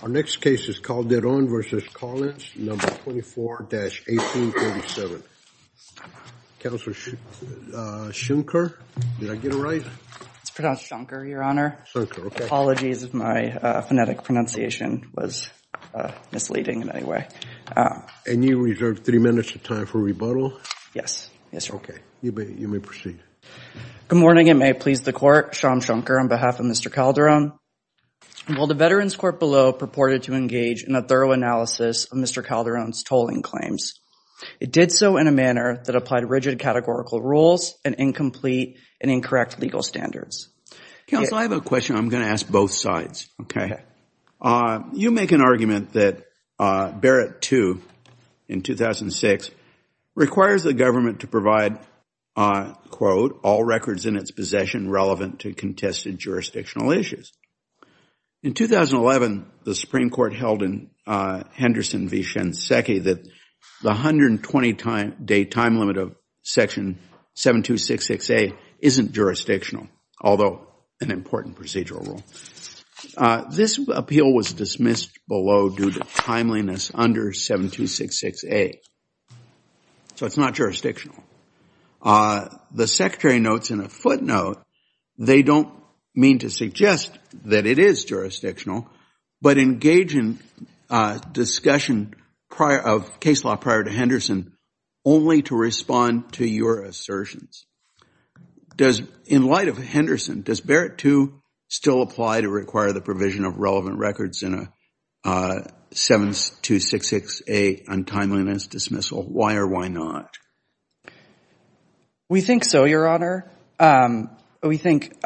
Our next case is Calderon v. Collins, No. 24-1837. Counselor Schoenker, did I get it right? It's pronounced Schoenker, Your Honor. Schoenker, okay. Apologies if my phonetic pronunciation was misleading in any way. And you reserve three minutes of time for rebuttal? Yes, yes, Your Honor. Okay, you may proceed. Good morning and may it please the Court. Sean Schoenker on behalf of Mr. Calderon. While the Veterans Court below purported to engage in a thorough analysis of Mr. Calderon's tolling claims, it did so in a manner that applied rigid categorical rules and incomplete and incorrect legal standards. Counsel, I have a question I'm going to ask both sides, okay? You make an argument that Barrett II in 2006 requires the government to provide, quote, all records in its possession relevant to contested jurisdictional issues. In 2011, the Supreme Court held in Henderson v. Shinseki that the 120-day time limit of Section 7266A isn't jurisdictional, although an important procedural rule. This appeal was dismissed below due to timeliness under 7266A. So it's not jurisdictional. The Secretary notes in a footnote they don't mean to suggest that it is jurisdictional, but engage in discussion of case law prior to Henderson only to respond to your assertions. In light of Henderson, does Barrett II still apply to require the provision of relevant records in a 7266A untimeliness dismissal? Why or why not? We think so, Your Honor. We think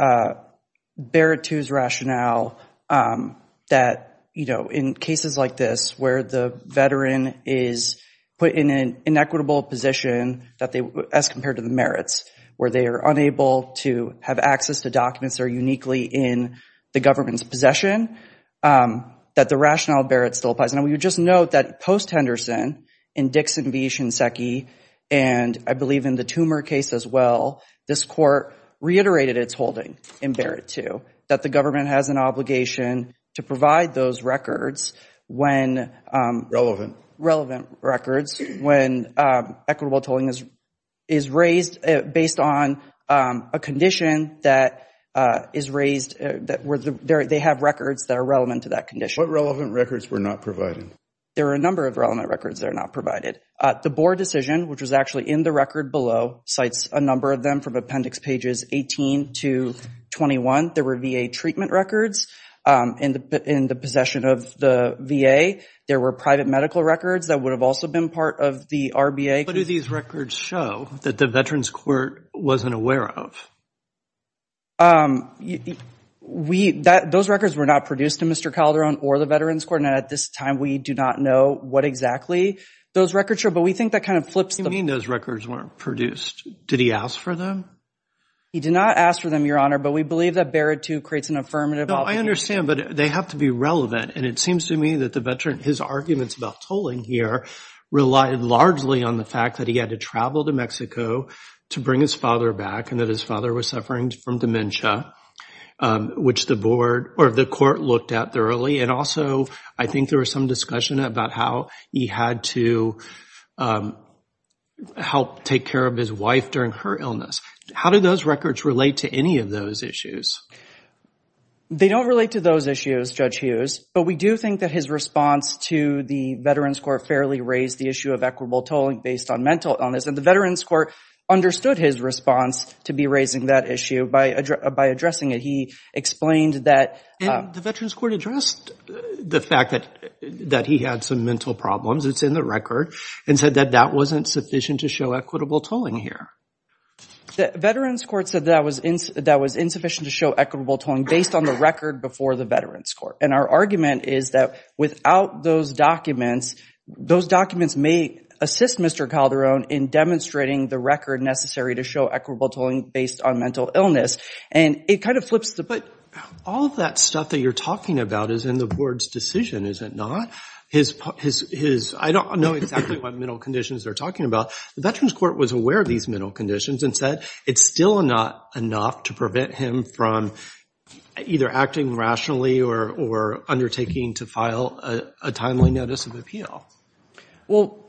Barrett II's rationale that, you know, in cases like this where the veteran is put in an inequitable position as compared to the merits, where they are unable to have access to documents that are uniquely in the government's possession, that the rationale of Barrett still applies. And we would just note that post-Henderson, in Dixon v. Shinseki, and I believe in the Tumor case as well, this Court reiterated its holding in Barrett II, that the government has an obligation to provide those records when... Relevant. Relevant records when equitable tolling is raised based on a condition that is raised, that they have records that are relevant to that condition. What relevant records were not provided? There are a number of relevant records that are not provided. The Board decision, which was actually in the record below, cites a number of them from Appendix Pages 18 to 21. There were VA treatment records in the possession of the VA. There were private medical records that would have also been part of the RBA. What do these records show that the Veterans Court wasn't aware of? Those records were not produced in Mr. Calderon or the Veterans Court, and at this time, we do not know what exactly those records show, but we think that kind of flips the... You mean those records weren't produced. Did he ask for them? He did not ask for them, Your Honor, but we believe that Barrett II creates an affirmative obligation. No, I understand, but they have to be relevant, and it seems to me that the veteran, his arguments about tolling here, relied largely on the fact that he had to travel to Mexico to bring his father back, and that his father was suffering from dementia, which the Court looked at thoroughly, and also, I think there was some discussion about how he had to help take care of his wife during her illness. How do those records relate to any of those issues? They don't relate to those issues, Judge Hughes, but we do think that his response to the Veterans Court fairly raised the issue of equitable tolling based on mental illness, and the Veterans Court understood his response to be raising that issue by addressing it. He explained that... And the Veterans Court addressed the fact that he had some mental problems. It's in the record, and said that that wasn't sufficient to show equitable tolling here. The Veterans Court said that was insufficient to show equitable tolling based on the record before the Veterans Court, and our argument is that without those documents, those documents may assist Mr. Calderon in demonstrating the record necessary to show equitable tolling based on mental illness, and it kind of flips the... But all of that stuff that you're talking about is in the Board's decision, is it not? His... I don't know exactly what mental conditions they're talking about. The Veterans Court was aware of these mental conditions, and said it's still not enough to prevent him from either acting rationally or undertaking to file a timely notice of appeal.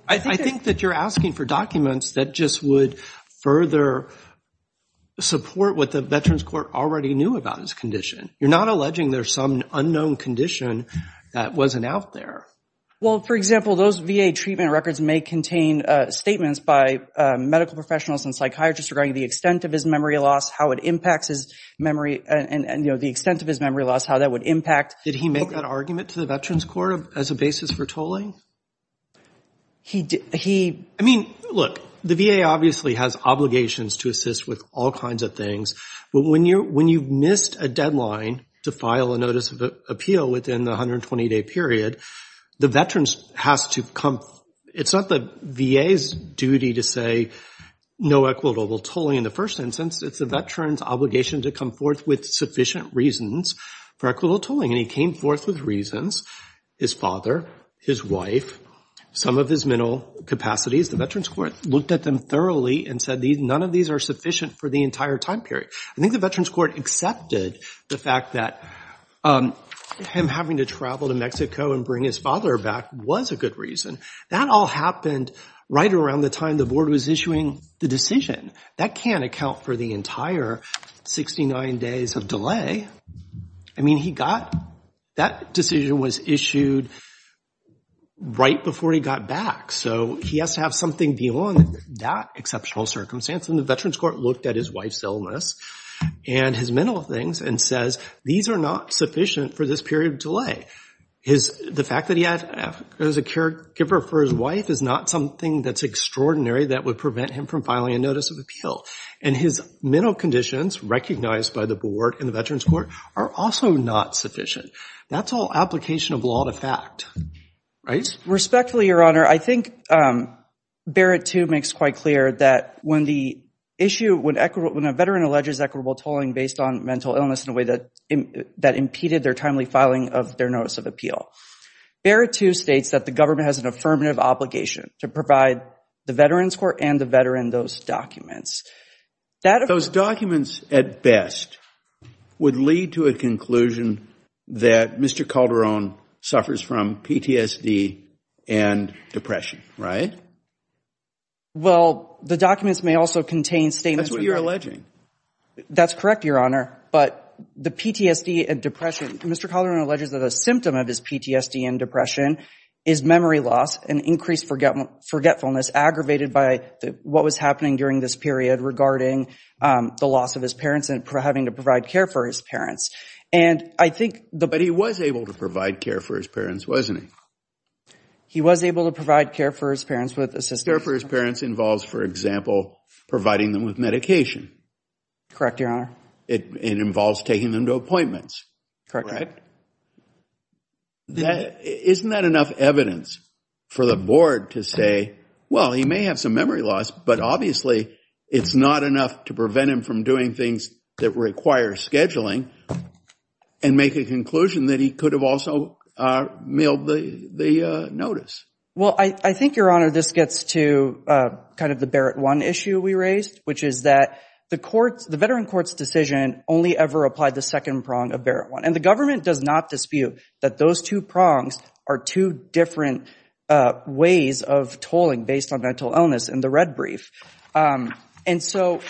I think that you're asking for documents that just would further support what the Veterans Court already knew about his condition. You're not alleging there's some unknown condition that wasn't out there. Well, for example, those VA treatment records may contain statements by medical professionals and psychiatrists regarding the extent of his memory loss, how it impacts his memory, and the extent of his memory loss, how that would impact... Did he make that argument to the Veterans Court as a basis for tolling? He... I mean, look, the VA obviously has obligations to assist with all kinds of things, but when you've missed a deadline to file a notice of appeal within the 120-day period, the Veterans has to come... It's not the VA's duty to say no equitable tolling in the first instance. It's a veteran's obligation to come forth with sufficient reasons for equitable tolling, and he came forth with reasons, his father, his wife, some of his mental capacities. The Veterans Court looked at them thoroughly and said none of these are sufficient for the entire time period. I think the Veterans Court accepted the fact that him having to travel to Mexico and bring his father back was a good reason. That all happened right around the time the board was issuing the decision. That can't account for the entire 69 days of delay. I mean, he got... That decision was issued right before he got back, so he has to have something beyond that exceptional circumstance. And the Veterans Court looked at his wife's illness and his mental things and says, these are not sufficient for this period of delay. His... The fact that he has a caregiver for his wife is not something that's extraordinary that would prevent him from filing a notice of appeal. And his mental conditions recognized by the board and the Veterans Court are also not sufficient. That's all application of law to fact, right? Respectfully, Your Honor, I think Barrett, too, makes quite clear that when the issue... When a veteran alleges equitable tolling based on mental illness in a way that impeded their timely filing of their notice of appeal, Barrett, too, states that the government has an affirmative obligation to provide the Veterans Court and the veteran those documents. Those documents, at best, would lead to a conclusion that Mr. Calderon suffers from PTSD and depression, right? Well, the documents may also contain statements... That's what you're alleging. That's correct, Your Honor, but the PTSD and depression... Mr. Calderon alleges that a symptom of his PTSD and depression is memory loss and increased forgetfulness aggravated by what was happening during this period regarding the loss of his parents and having to provide care for his parents. And I think... But he was able to provide care for his parents, wasn't he? He was able to provide care for his parents with assistance... Care for his parents involves, for example, providing them with medication. Correct, Your Honor. It involves taking them to appointments. Correct. Isn't that enough evidence for the board to say, well, he may have some memory loss, but obviously it's not enough to prevent him from doing things that require scheduling and make a conclusion that he could have also mailed the notice? Well, I think, Your Honor, this gets to kind of the Barrett 1 issue we raised, which is that the Veterans Court's decision only ever applied the second prong of Barrett 1. And the government does not dispute that those two prongs are two different ways of tolling based on mental illness in the red brief. And so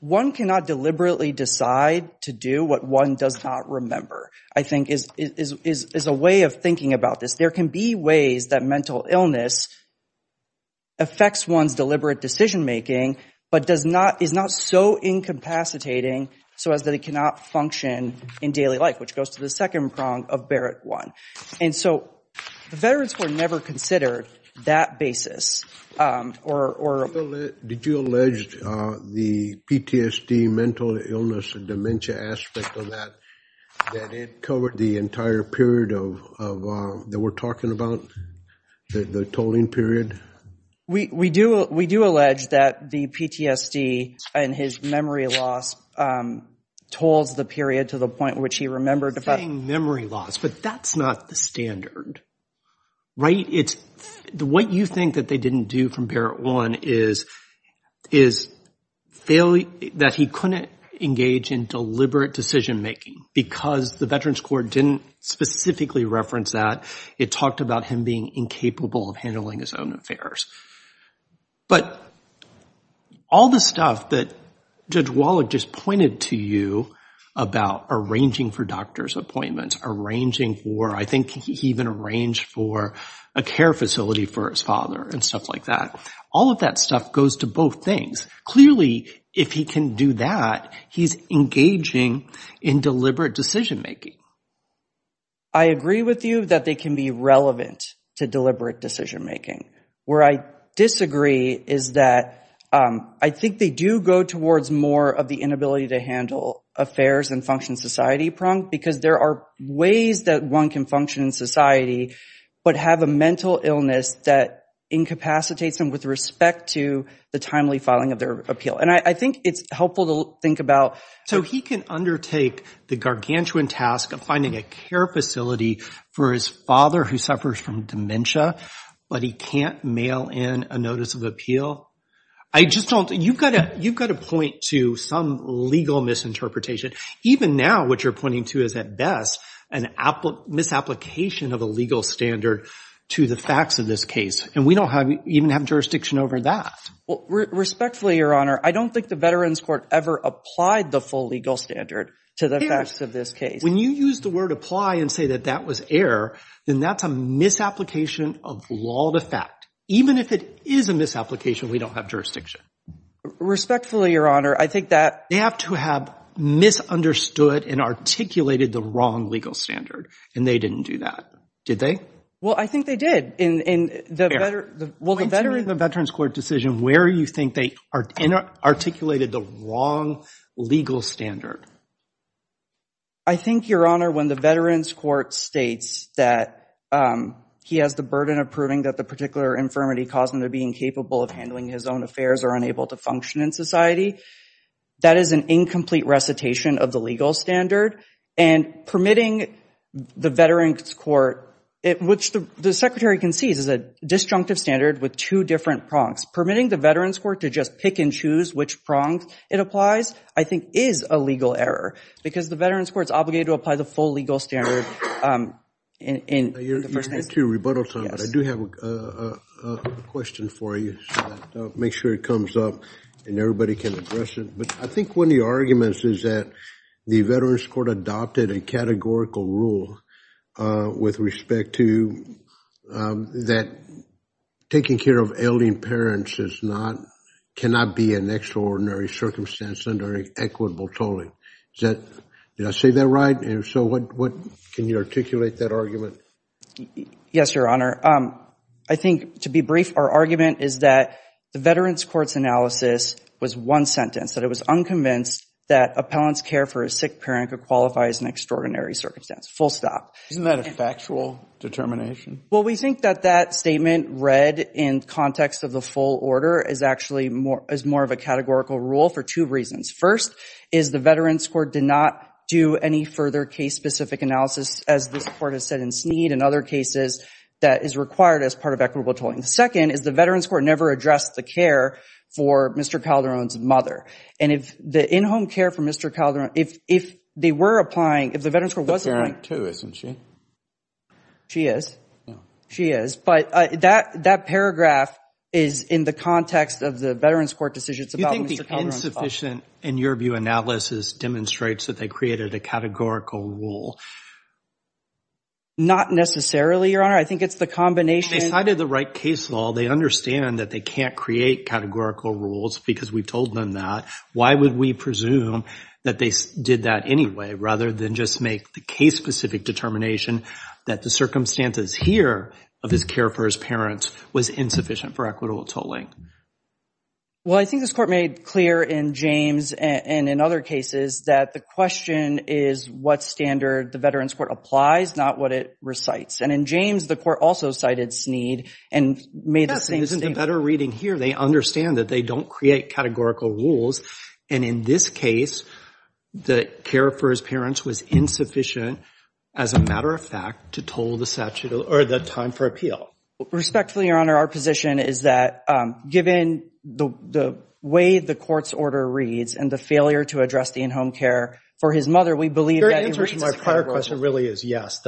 one cannot deliberately decide to do what one does not remember, I think, is a way of thinking about this. There can be ways that mental illness affects one's deliberate decision-making, but is not so incapacitating so as that it cannot function in daily life, which goes to the second prong of Barrett 1. And so the Veterans Court never considered that basis. Did you allege the PTSD, mental illness, and dementia aspect of that, that it covered the entire period that we're talking about, the tolling period? We do allege that the PTSD and his memory loss tolls the period to the point which he remembered. You're saying memory loss, but that's not the standard, right? What you think that they didn't do from Barrett 1 is that he couldn't engage in deliberate decision-making because the Veterans Court didn't specifically reference that. It talked about him being incapable of handling his own affairs. But all the stuff that Judge Wallach just pointed to you about arranging for doctor's appointments, arranging for, I think he even arranged for a care facility for his father and stuff like that, all of that stuff goes to both things. Clearly, if he can do that, he's engaging in deliberate decision-making. I agree with you that they can be relevant to deliberate decision-making. Where I disagree is that I think they do go towards more of the inability to handle affairs and function society prong because there are ways that one can function in society, but have a mental illness that incapacitates them with respect to the timely filing of their appeal. And I think it's helpful to think about... So he can undertake the gargantuan task of finding a care facility for his father who suffers from dementia, but he can't mail in a notice of appeal? You've got to point to some legal misinterpretation. Even now, what you're pointing to is, at best, a misapplication of a legal standard to the facts of this case. And we don't even have jurisdiction over that. Respectfully, Your Honor, I don't think the Veterans Court ever applied the full legal standard to the facts of this case. When you use the word apply and say that that was error, then that's a misapplication of law to fact. Even if it is a misapplication, we don't have jurisdiction. Respectfully, Your Honor, I think that... They have to have misunderstood and articulated the wrong legal standard, and they didn't do that. Did they? Well, I think they did. In the Veterans Court decision, where do you think they articulated the wrong legal standard? I think, Your Honor, when the Veterans Court states that he has the burden of proving that the particular infirmity caused him to be incapable of handling his own affairs or unable to function in society, that is an incomplete recitation of the legal standard. And permitting the Veterans Court, which the Secretary concedes is a disjunctive standard with two different prongs. Permitting the Veterans Court to just pick and choose which prong it applies, I think, is a legal error. Because the Veterans Court is obligated to apply the full legal standard in the first instance. I do have a question for you. Make sure it comes up and everybody can address it. But I think one of the arguments is that the Veterans Court adopted a categorical rule with respect to that taking care of ailing parents cannot be an extraordinary circumstance under equitable tolling. Did I say that right? Can you articulate that argument? Yes, Your Honor. I think, to be brief, our argument is that the Veterans Court's analysis was one sentence. That it was unconvinced that appellant's care for a sick parent could qualify as an extraordinary circumstance. Full stop. Isn't that a factual determination? Well, we think that that statement read in context of the full order is actually more of a categorical rule for two reasons. First is the Veterans Court did not do any further case-specific analysis, as this Court has said in Sneed and other cases, that is required as part of equitable tolling. Second is the Veterans Court never addressed the care for Mr. Calderon's mother. And if the in-home care for Mr. Calderon, if they were applying, if the Veterans Court was applying She's a parent, too, isn't she? She is. She is. But that paragraph is in the context of the Veterans Court decision. You think the insufficient, in your view, analysis demonstrates that they created a categorical rule? Not necessarily, Your Honor. I think it's the combination. They cited the right case law. They understand that they can't create categorical rules because we told them that. Why would we presume that they did that anyway rather than just make the case-specific determination that the circumstances here of his care for his parents was insufficient for equitable tolling? Well, I think this Court made clear in James and in other cases that the question is what standard the Veterans Court applies, not what it recites. And in James, the Court also cited Sneed and made the same statement. Yes, and this is a better reading here. They understand that they don't create categorical rules. And in this case, the care for his parents was insufficient, as a matter of fact, to toll the statute or the time for appeal. Respectfully, Your Honor, our position is that given the way the Court's order reads and the failure to address the in-home care for his mother, we believe that it reads as a categorical rule. Your answer to my prior question really is yes.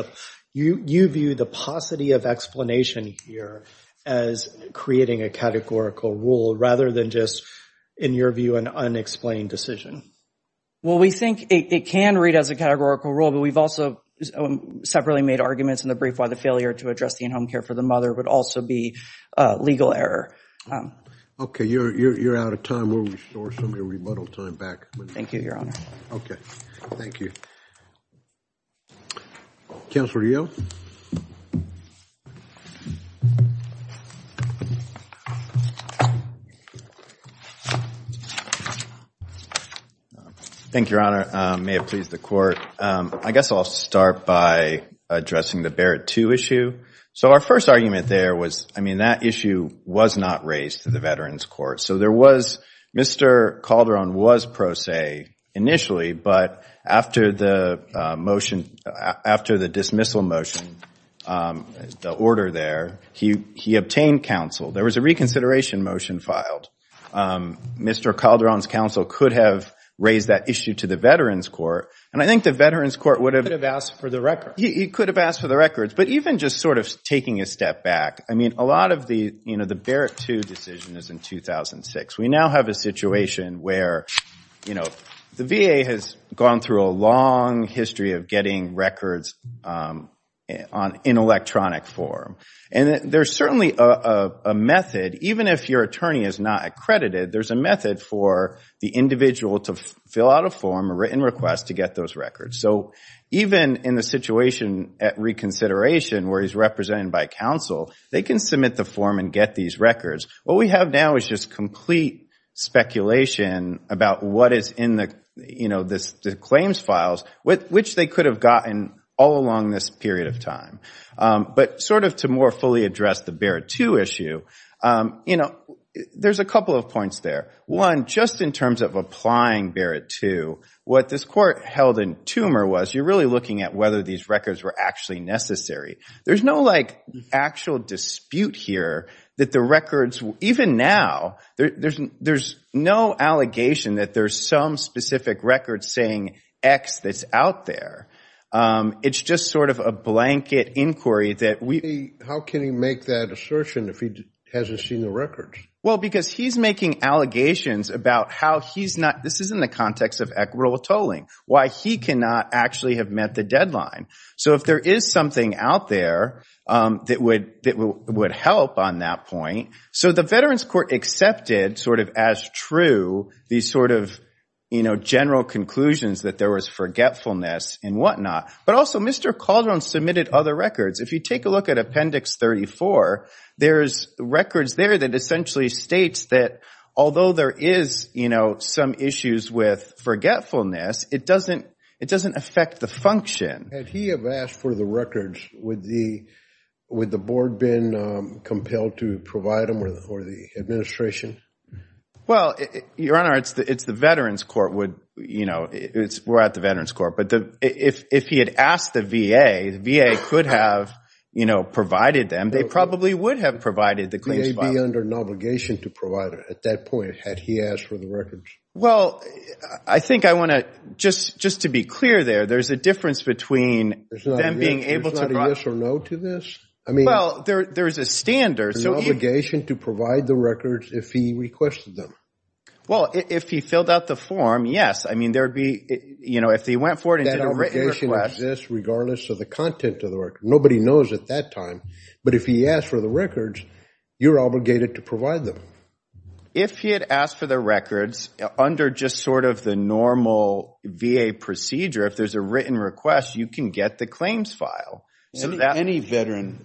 You view the paucity of explanation here as creating a categorical rule rather than just, in your view, an unexplained decision. Well, we think it can read as a categorical rule, but we've also separately made arguments in the brief why the failure to address the in-home care for the mother would also be a legal error. Okay, you're out of time. We'll restore some of your rebuttal time back. Thank you, Your Honor. Okay, thank you. Counselor Yeo? Thank you, Your Honor. May it please the Court. I guess I'll start by addressing the Barrett II issue. So our first argument there was, I mean, that issue was not raised to the Veterans Court. So there was Mr. Calderon was pro se initially, but after the dismissal motion, the order there, he obtained counsel. There was a reconsideration motion filed. Mr. Calderon's counsel could have raised that issue to the Veterans Court, and I think the Veterans Court would have asked for the records. He could have asked for the records. But even just sort of taking a step back, I mean, a lot of the Barrett II decision is in 2006. We now have a situation where the VA has gone through a long history of getting records in electronic form. And there's certainly a method, even if your attorney is not accredited, there's a method for the individual to fill out a form, a written request, to get those records. So even in the situation at reconsideration where he's represented by counsel, they can submit the form and get these records. What we have now is just complete speculation about what is in the claims files, which they could have gotten all along this period of time. But sort of to more fully address the Barrett II issue, you know, there's a couple of points there. One, just in terms of applying Barrett II, what this court held in Tumor was you're really looking at whether these records were actually necessary. There's no, like, actual dispute here that the records, even now, there's no allegation that there's some specific record saying X that's out there. It's just sort of a blanket inquiry that we. How can he make that assertion if he hasn't seen the records? Well, because he's making allegations about how he's not, this is in the context of equitable tolling, why he cannot actually have met the deadline. So if there is something out there that would help on that point. So the Veterans Court accepted sort of as true these sort of, you know, and whatnot, but also Mr. Calderon submitted other records. If you take a look at Appendix 34, there's records there that essentially states that although there is, you know, some issues with forgetfulness, it doesn't affect the function. Had he have asked for the records, would the board been compelled to provide them or the administration? Well, Your Honor, it's the Veterans Court would, you know, we're at the Veterans Court. But if he had asked the VA, the VA could have, you know, provided them. They probably would have provided the claims file. The VA would be under an obligation to provide it at that point had he asked for the records. Well, I think I want to just to be clear there, there's a difference between them being able to. There's not a yes or no to this? Well, there's a standard. There's an obligation to provide the records if he requested them. Well, if he filled out the form, yes. I mean, there would be, you know, if he went forward and did a written request. That obligation exists regardless of the content of the record. Nobody knows at that time. But if he asked for the records, you're obligated to provide them. If he had asked for the records under just sort of the normal VA procedure, if there's a written request, you can get the claims file. Any veteran?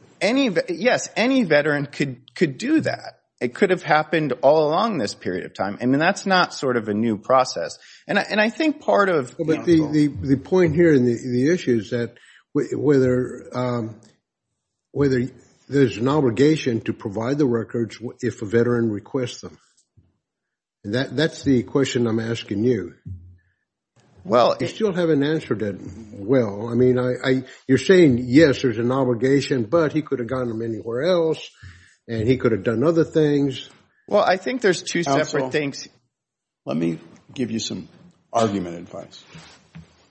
Yes, any veteran could do that. It could have happened all along this period of time. I mean, that's not sort of a new process. And I think part of the problem. But the point here and the issue is that whether there's an obligation to provide the records if a veteran requests them. That's the question I'm asking you. Well, it's. You still haven't answered it well. I mean, you're saying, yes, there's an obligation, but he could have gotten them anywhere else and he could have done other things. Well, I think there's two separate things. Let me give you some argument advice.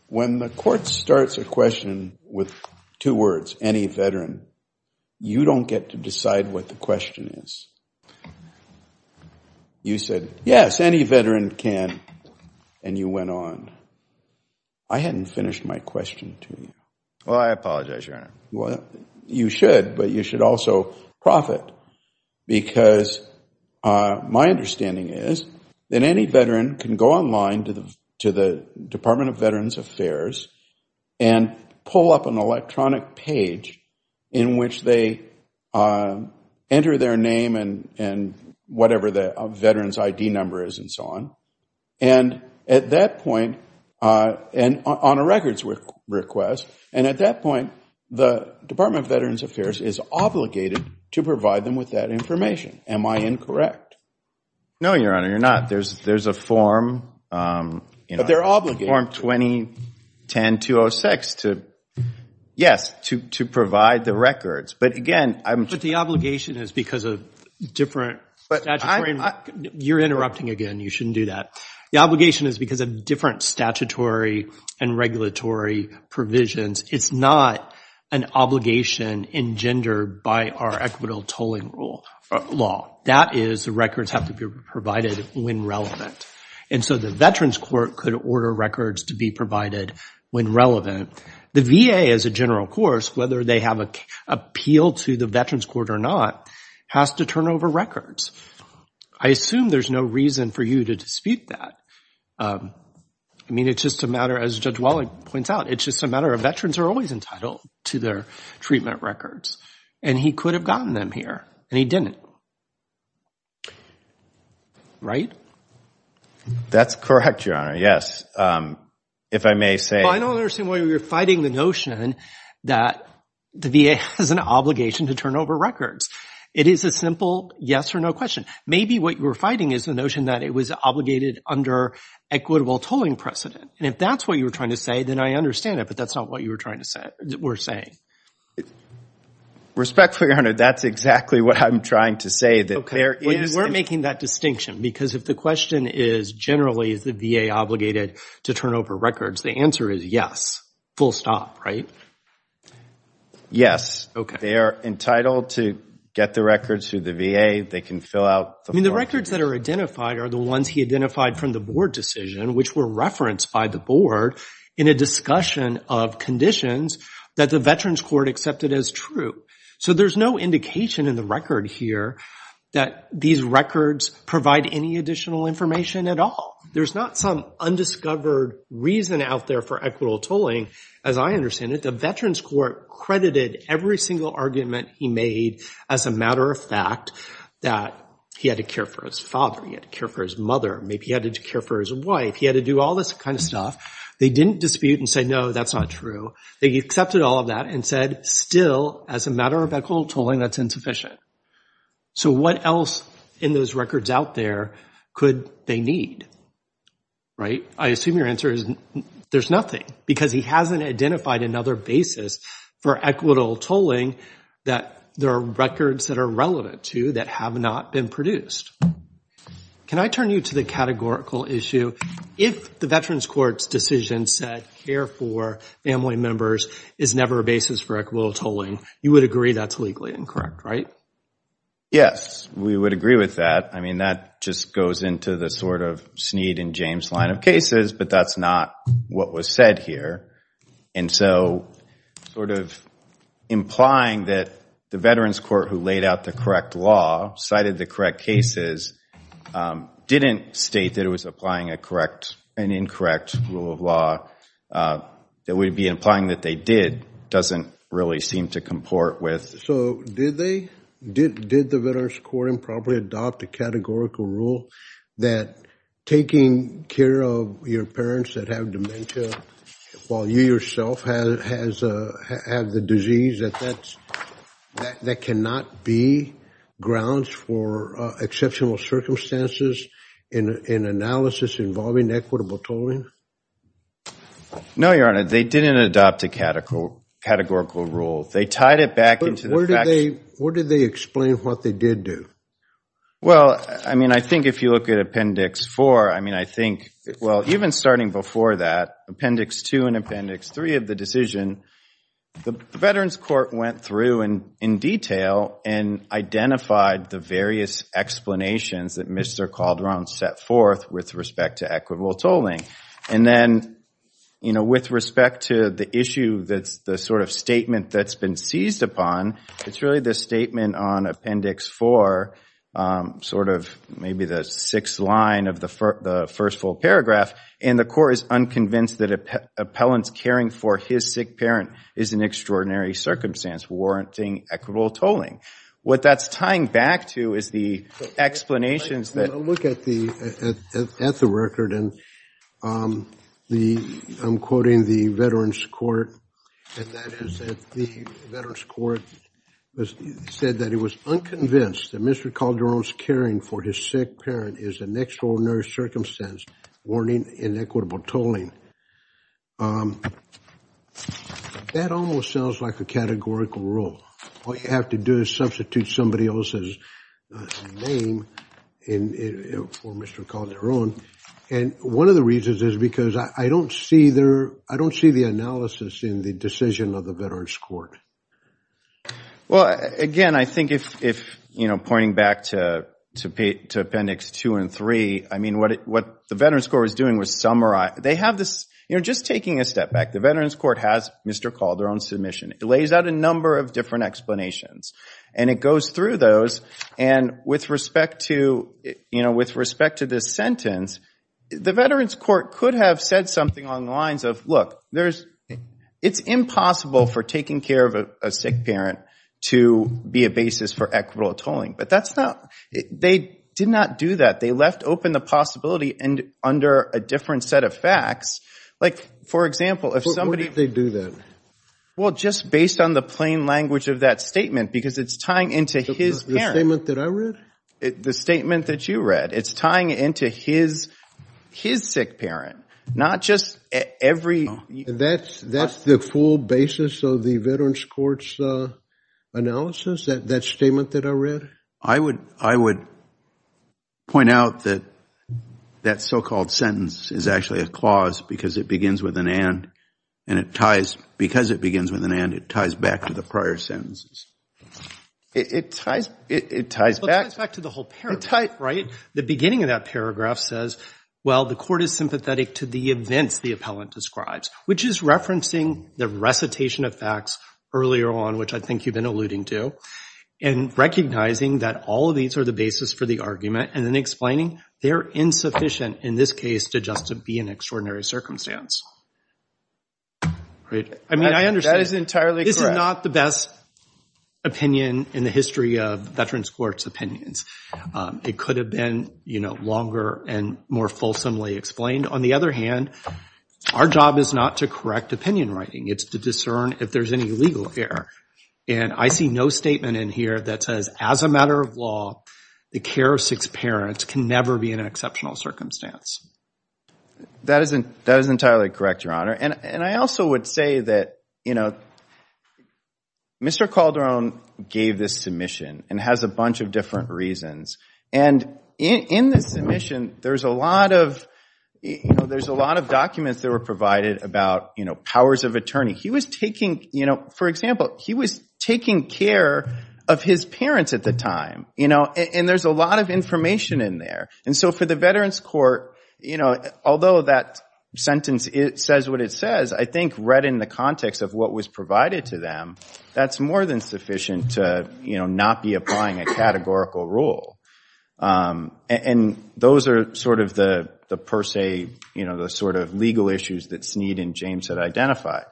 When the court starts a question with two words, any veteran, you don't get to decide what the question is. You said, yes, any veteran can, and you went on. I hadn't finished my question to you. Well, I apologize, Your Honor. You should, but you should also profit because my understanding is that any veteran can go online to the Department of Veterans Affairs and pull up an electronic page in which they enter their name and whatever the veteran's ID number is and so on. And at that point, on a records request, and at that point, the Department of Veterans Affairs is obligated to provide them with that information. Am I incorrect? No, Your Honor, you're not. There's a form. But they're obligated. Form 2010-206 to, yes, to provide the records. But again, I'm. But the obligation is because of different statutory. You're interrupting again. You shouldn't do that. The obligation is because of different statutory and regulatory provisions. It's not an obligation engendered by our equitable tolling law. That is the records have to be provided when relevant. And so the Veterans Court could order records to be provided when relevant. The VA, as a general course, whether they have an appeal to the Veterans Court or not, has to turn over records. I assume there's no reason for you to dispute that. I mean, it's just a matter, as Judge Walling points out, it's just a matter of veterans are always entitled to their treatment records. And he could have gotten them here, and he didn't. Right? That's correct, Your Honor, yes. If I may say. Well, I don't understand why you're fighting the notion that the VA has an obligation to turn over records. It is a simple yes or no question. Maybe what you're fighting is the notion that it was obligated under equitable tolling precedent. And if that's what you were trying to say, then I understand it. But that's not what you were saying. Respectfully, Your Honor, that's exactly what I'm trying to say, that there is. We weren't making that distinction, because if the question is generally is the VA obligated to turn over records, the answer is yes. Full stop, right? Yes. They are entitled to get the records through the VA. They can fill out. I mean, the records that are identified are the ones he identified from the board decision, which were referenced by the board in a discussion of conditions that the Veterans Court accepted as true. So there's no indication in the record here that these records provide any additional information at all. There's not some undiscovered reason out there for equitable tolling, as I understand it. The Veterans Court credited every single argument he made as a matter of fact that he had to care for his father. He had to care for his mother. Maybe he had to care for his wife. He had to do all this kind of stuff. They didn't dispute and say, no, that's not true. They accepted all of that and said, still, as a matter of equitable tolling, that's insufficient. So what else in those records out there could they need, right? I assume your answer is there's nothing, because he hasn't identified another basis for equitable tolling that there are records that are relevant to that have not been produced. Can I turn you to the categorical issue? If the Veterans Court's decision said care for family members is never a basis for equitable tolling, you would agree that's legally incorrect, right? Yes, we would agree with that. I mean, that just goes into the sort of Snead and James line of cases, but that's not what was said here. And so sort of implying that the Veterans Court, who laid out the correct law, cited the correct cases, didn't state that it was applying an incorrect rule of law, that would be implying that they did, doesn't really seem to comport with. So did the Veterans Court improperly adopt a categorical rule that taking care of your parents that have dementia while you yourself have the disease, that that cannot be grounds for exceptional circumstances in analysis involving equitable tolling? No, Your Honor. They didn't adopt a categorical rule. They tied it back into the facts. Where did they explain what they did do? Well, I mean, I think if you look at Appendix 4, I mean, I think, well, even starting before that, Appendix 2 and Appendix 3 of the decision, the Veterans Court went through in detail and identified the various explanations that Mr. Calderon set forth with respect to equitable tolling. And then, you know, with respect to the issue that's the sort of statement that's been seized upon, it's really the statement on Appendix 4, sort of maybe the sixth line of the first full paragraph, and the court is unconvinced that appellants caring for his sick parent is an extraordinary circumstance warranting equitable tolling. What that's tying back to is the explanations that — said that it was unconvinced that Mr. Calderon's caring for his sick parent is an extraordinary circumstance warranting inequitable tolling. That almost sounds like a categorical rule. All you have to do is substitute somebody else's name for Mr. Calderon. And one of the reasons is because I don't see the analysis in the decision of the Veterans Court. Well, again, I think if, you know, pointing back to Appendix 2 and 3, I mean, what the Veterans Court was doing was summarize — they have this — you know, just taking a step back, the Veterans Court has Mr. Calderon's submission. It lays out a number of different explanations. And it goes through those, and with respect to, you know, with respect to this sentence, the Veterans Court could have said something along the lines of, look, there's — it's impossible for taking care of a sick parent to be a basis for equitable tolling. But that's not — they did not do that. They left open the possibility under a different set of facts. Like, for example, if somebody — Why did they do that? Well, just based on the plain language of that statement, because it's tying into his parent. The statement that I read? The statement that you read. It's tying into his sick parent, not just every — That's the full basis of the Veterans Court's analysis, that statement that I read? I would point out that that so-called sentence is actually a clause, because it begins with an and, and it ties — because it begins with an and, it ties back to the prior sentences. It ties back — It ties back to the whole paragraph, right? The beginning of that paragraph says, well, the court is sympathetic to the events the appellant describes, which is referencing the recitation of facts earlier on, which I think you've been alluding to, and recognizing that all of these are the basis for the argument, and then explaining they're insufficient in this case to just be an extraordinary circumstance. I mean, I understand. That is entirely correct. This is not the best opinion in the history of Veterans Court's opinions. It could have been, you know, longer and more fulsomely explained. On the other hand, our job is not to correct opinion writing. It's to discern if there's any legal error. And I see no statement in here that says, as a matter of law, the care of six parents can never be an exceptional circumstance. That is entirely correct, Your Honor. And I also would say that, you know, Mr. Calderon gave this submission and has a bunch of different reasons. And in this submission, there's a lot of, you know, there's a lot of documents that were provided about, you know, powers of attorney. He was taking, you know, for example, he was taking care of his parents at the time, you know, and there's a lot of information in there. And so for the Veterans Court, you know, although that sentence says what it says, I think read in the context of what was provided to them, that's more than sufficient to, you know, not be applying a categorical rule. And those are sort of the per se, you know, the sort of legal issues that Sneed and James had identified.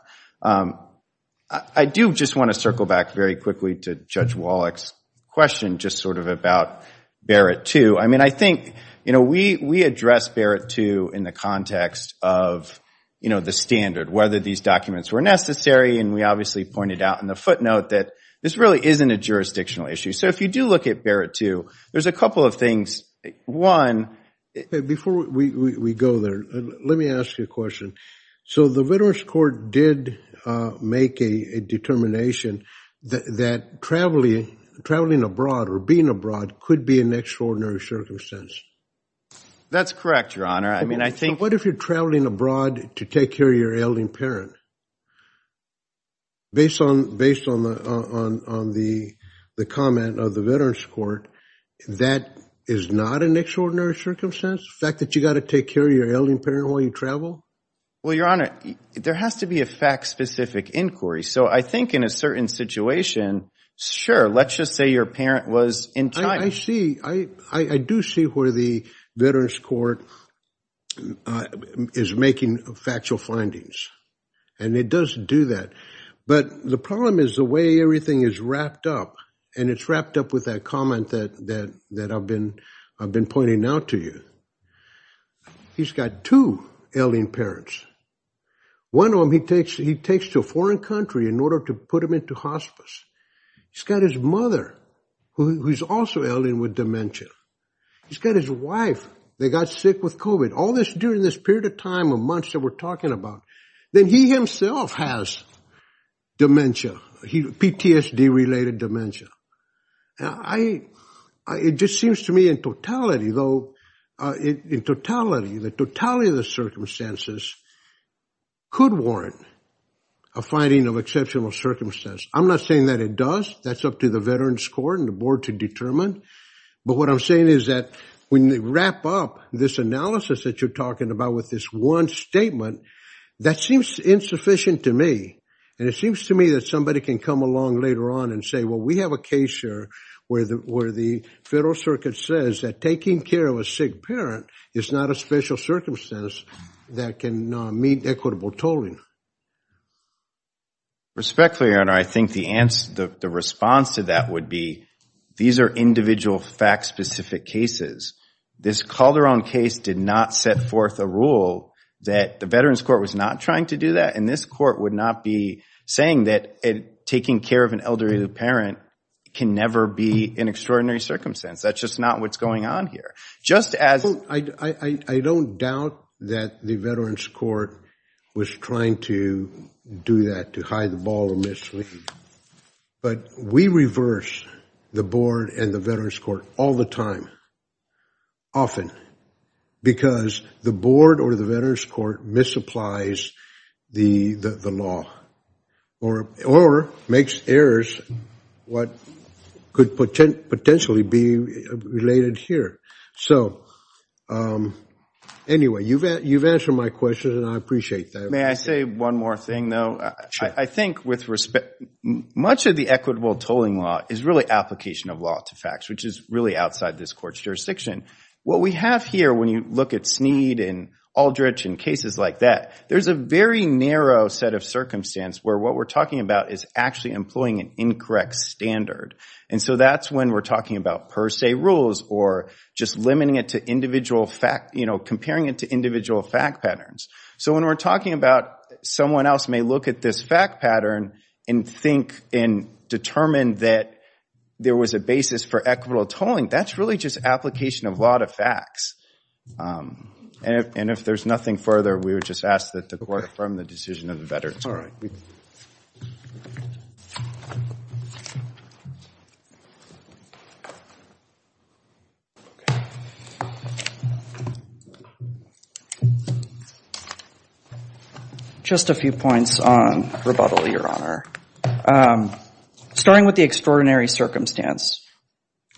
I do just want to circle back very quickly to Judge Wallach's question just sort of about Barrett II. I mean, I think, you know, we address Barrett II in the context of, you know, the standard, whether these documents were necessary. And we obviously pointed out in the footnote that this really isn't a jurisdictional issue. So if you do look at Barrett II, there's a couple of things. One- Before we go there, let me ask you a question. So the Veterans Court did make a determination that traveling abroad or being abroad could be an extraordinary circumstance. That's correct, Your Honor. I mean, I think- What if you're traveling abroad to take care of your elderly parent? Based on the comment of the Veterans Court, that is not an extraordinary circumstance, the fact that you've got to take care of your elderly parent while you travel? Well, Your Honor, there has to be a fact-specific inquiry. So I think in a certain situation, sure, let's just say your parent was in China. I see. I do see where the Veterans Court is making factual findings, and it does do that. But the problem is the way everything is wrapped up, and it's wrapped up with that comment that I've been pointing out to you. He's got two elderly parents. One of them he takes to a foreign country in order to put him into hospice. He's got his mother who's also elderly with dementia. He's got his wife that got sick with COVID. All this during this period of time of months that we're talking about. Then he himself has dementia, PTSD-related dementia. It just seems to me in totality, though, in totality, the totality of the circumstances could warrant a finding of exceptional circumstance. I'm not saying that it does. That's up to the Veterans Court and the Board to determine. But what I'm saying is that when they wrap up this analysis that you're talking about with this one statement, that seems insufficient to me. And it seems to me that somebody can come along later on and say, well, we have a case here where the Federal Circuit says that taking care of a sick parent is not a special circumstance that can meet equitable tolling. Respectfully, Your Honor, I think the response to that would be, these are individual fact-specific cases. This Calderon case did not set forth a rule that the Veterans Court was not trying to do that. And this Court would not be saying that taking care of an elderly parent can never be an extraordinary circumstance. That's just not what's going on here. I don't doubt that the Veterans Court was trying to do that, to hide the ball remissly. But we reverse the Board and the Veterans Court all the time, often, because the Board or the Veterans Court misapplies the law or makes errors, what could potentially be related here. So anyway, you've answered my question, and I appreciate that. May I say one more thing, though? Sure. I think with respect, much of the equitable tolling law is really application of law to facts, which is really outside this Court's jurisdiction. What we have here, when you look at Snead and Aldrich and cases like that, there's a very narrow set of circumstance where what we're talking about is actually employing an incorrect standard. And so that's when we're talking about per se rules or just limiting it to individual fact, you know, comparing it to individual fact patterns. So when we're talking about someone else may look at this fact pattern and think and determine that there was a basis for equitable tolling, that's really just application of law to facts. And if there's nothing further, we would just ask that the Court affirm the decision of the Veterans Court. Just a few points on rebuttal, Your Honor. Starting with the extraordinary circumstance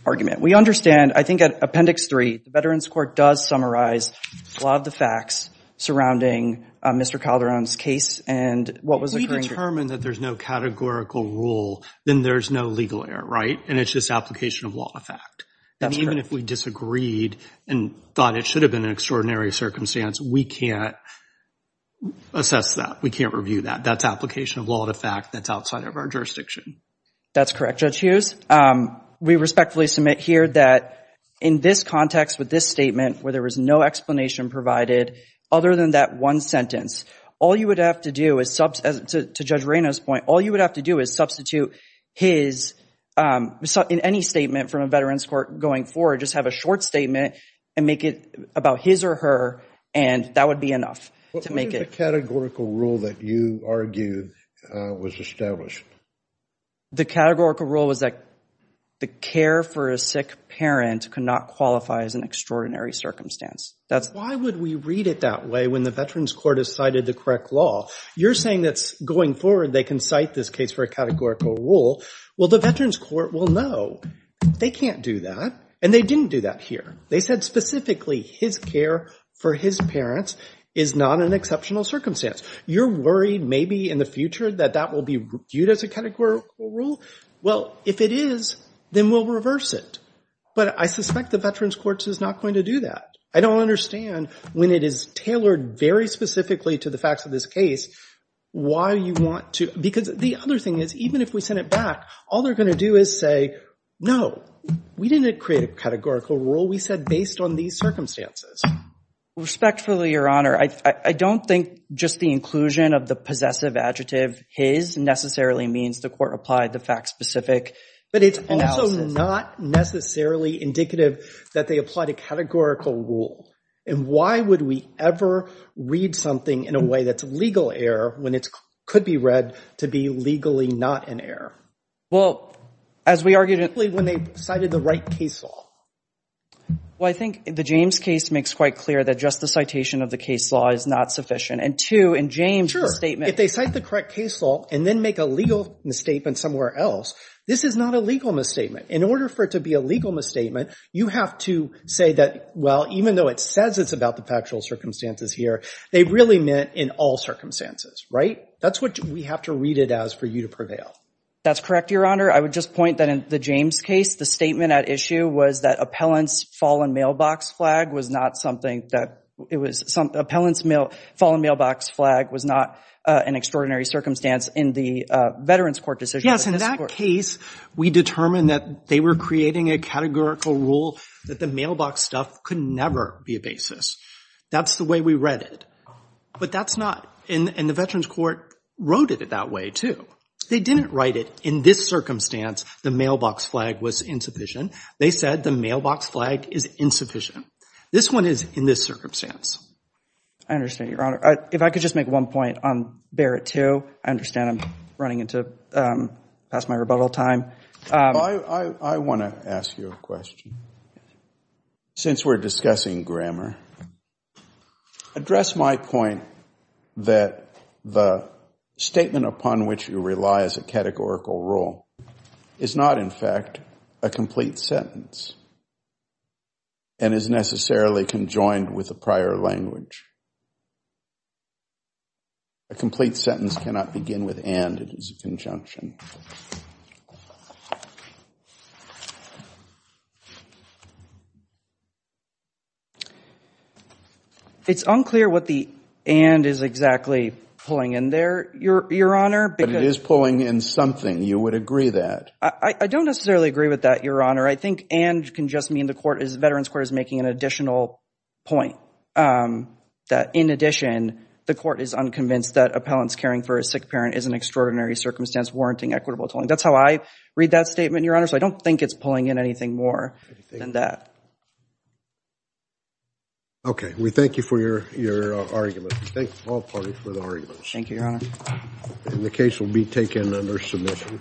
argument. We understand, I think at Appendix 3, the Veterans Court does summarize a lot of the facts surrounding Mr. Calderon's case and what was occurring. We determined that there's no categorical rule, then there's no legal error, right? And it's just application of law to fact. That's correct. And even if we disagreed and thought it should have been an extraordinary circumstance, we can't assess that. We can't review that. That's application of law to fact. That's outside of our jurisdiction. That's correct, Judge Hughes. We respectfully submit here that in this context with this statement, where there was no explanation provided other than that one sentence, all you would have to do is, to Judge Reno's point, all you would have to do is substitute his, in any statement from a Veterans Court going forward, just have a short statement and make it about his or her, and that would be enough. What was the categorical rule that you argued was established? The categorical rule was that the care for a sick parent could not qualify as an extraordinary circumstance. Why would we read it that way when the Veterans Court has cited the correct law? You're saying that going forward they can cite this case for a categorical rule. Well, the Veterans Court will know they can't do that, and they didn't do that here. They said specifically his care for his parents is not an exceptional circumstance. You're worried maybe in the future that that will be viewed as a categorical rule? Well, if it is, then we'll reverse it. But I suspect the Veterans Court is not going to do that. I don't understand when it is tailored very specifically to the facts of this case why you want to, because the other thing is even if we send it back, all they're going to do is say, no, we didn't create a categorical rule. We said based on these circumstances. Respectfully, Your Honor, I don't think just the inclusion of the possessive adjective his necessarily means the court applied the fact-specific analysis. But it's also not necessarily indicative that they applied a categorical rule. And why would we ever read something in a way that's a legal error when it could be read to be legally not an error? Well, as we argued in – Especially when they cited the right case law. Well, I think the James case makes quite clear that just the citation of the case law is not sufficient. And two, in James' statement – Sure. If they cite the correct case law and then make a legal misstatement somewhere else, this is not a legal misstatement. In order for it to be a legal misstatement, you have to say that, well, even though it says it's about the factual circumstances here, they really meant in all circumstances, right? That's what we have to read it as for you to prevail. That's correct, Your Honor. I would just point that in the James case, the statement at issue was that appellant's fallen mailbox flag was not something that – it was – appellant's fallen mailbox flag was not an extraordinary circumstance in the Veterans Court decision. Yes, in that case, we determined that they were creating a categorical rule that the mailbox stuff could never be a basis. That's the way we read it. But that's not – and the Veterans Court wrote it that way, too. They didn't write it, in this circumstance, the mailbox flag was insufficient. They said the mailbox flag is insufficient. This one is in this circumstance. I understand, Your Honor. If I could just make one point on Barrett 2. I understand I'm running into – past my rebuttal time. I want to ask you a question. Since we're discussing grammar, address my point that the statement upon which you rely as a categorical rule is not, in fact, a complete sentence and is necessarily conjoined with a prior language. A complete sentence cannot begin with and. It is a conjunction. It's unclear what the and is exactly pulling in there, Your Honor. But it is pulling in something. You would agree that. I don't necessarily agree with that, Your Honor. I think and can just mean the Veterans Court is making an additional point. That, in addition, the court is unconvinced that appellants caring for a sick parent is an extraordinary circumstance warranting equitable tolling. That's how I read that statement, Your Honor. So I don't think it's pulling in anything more than that. Okay. We thank you for your argument. We thank all parties for their arguments. Thank you, Your Honor. And the case will be taken under submission.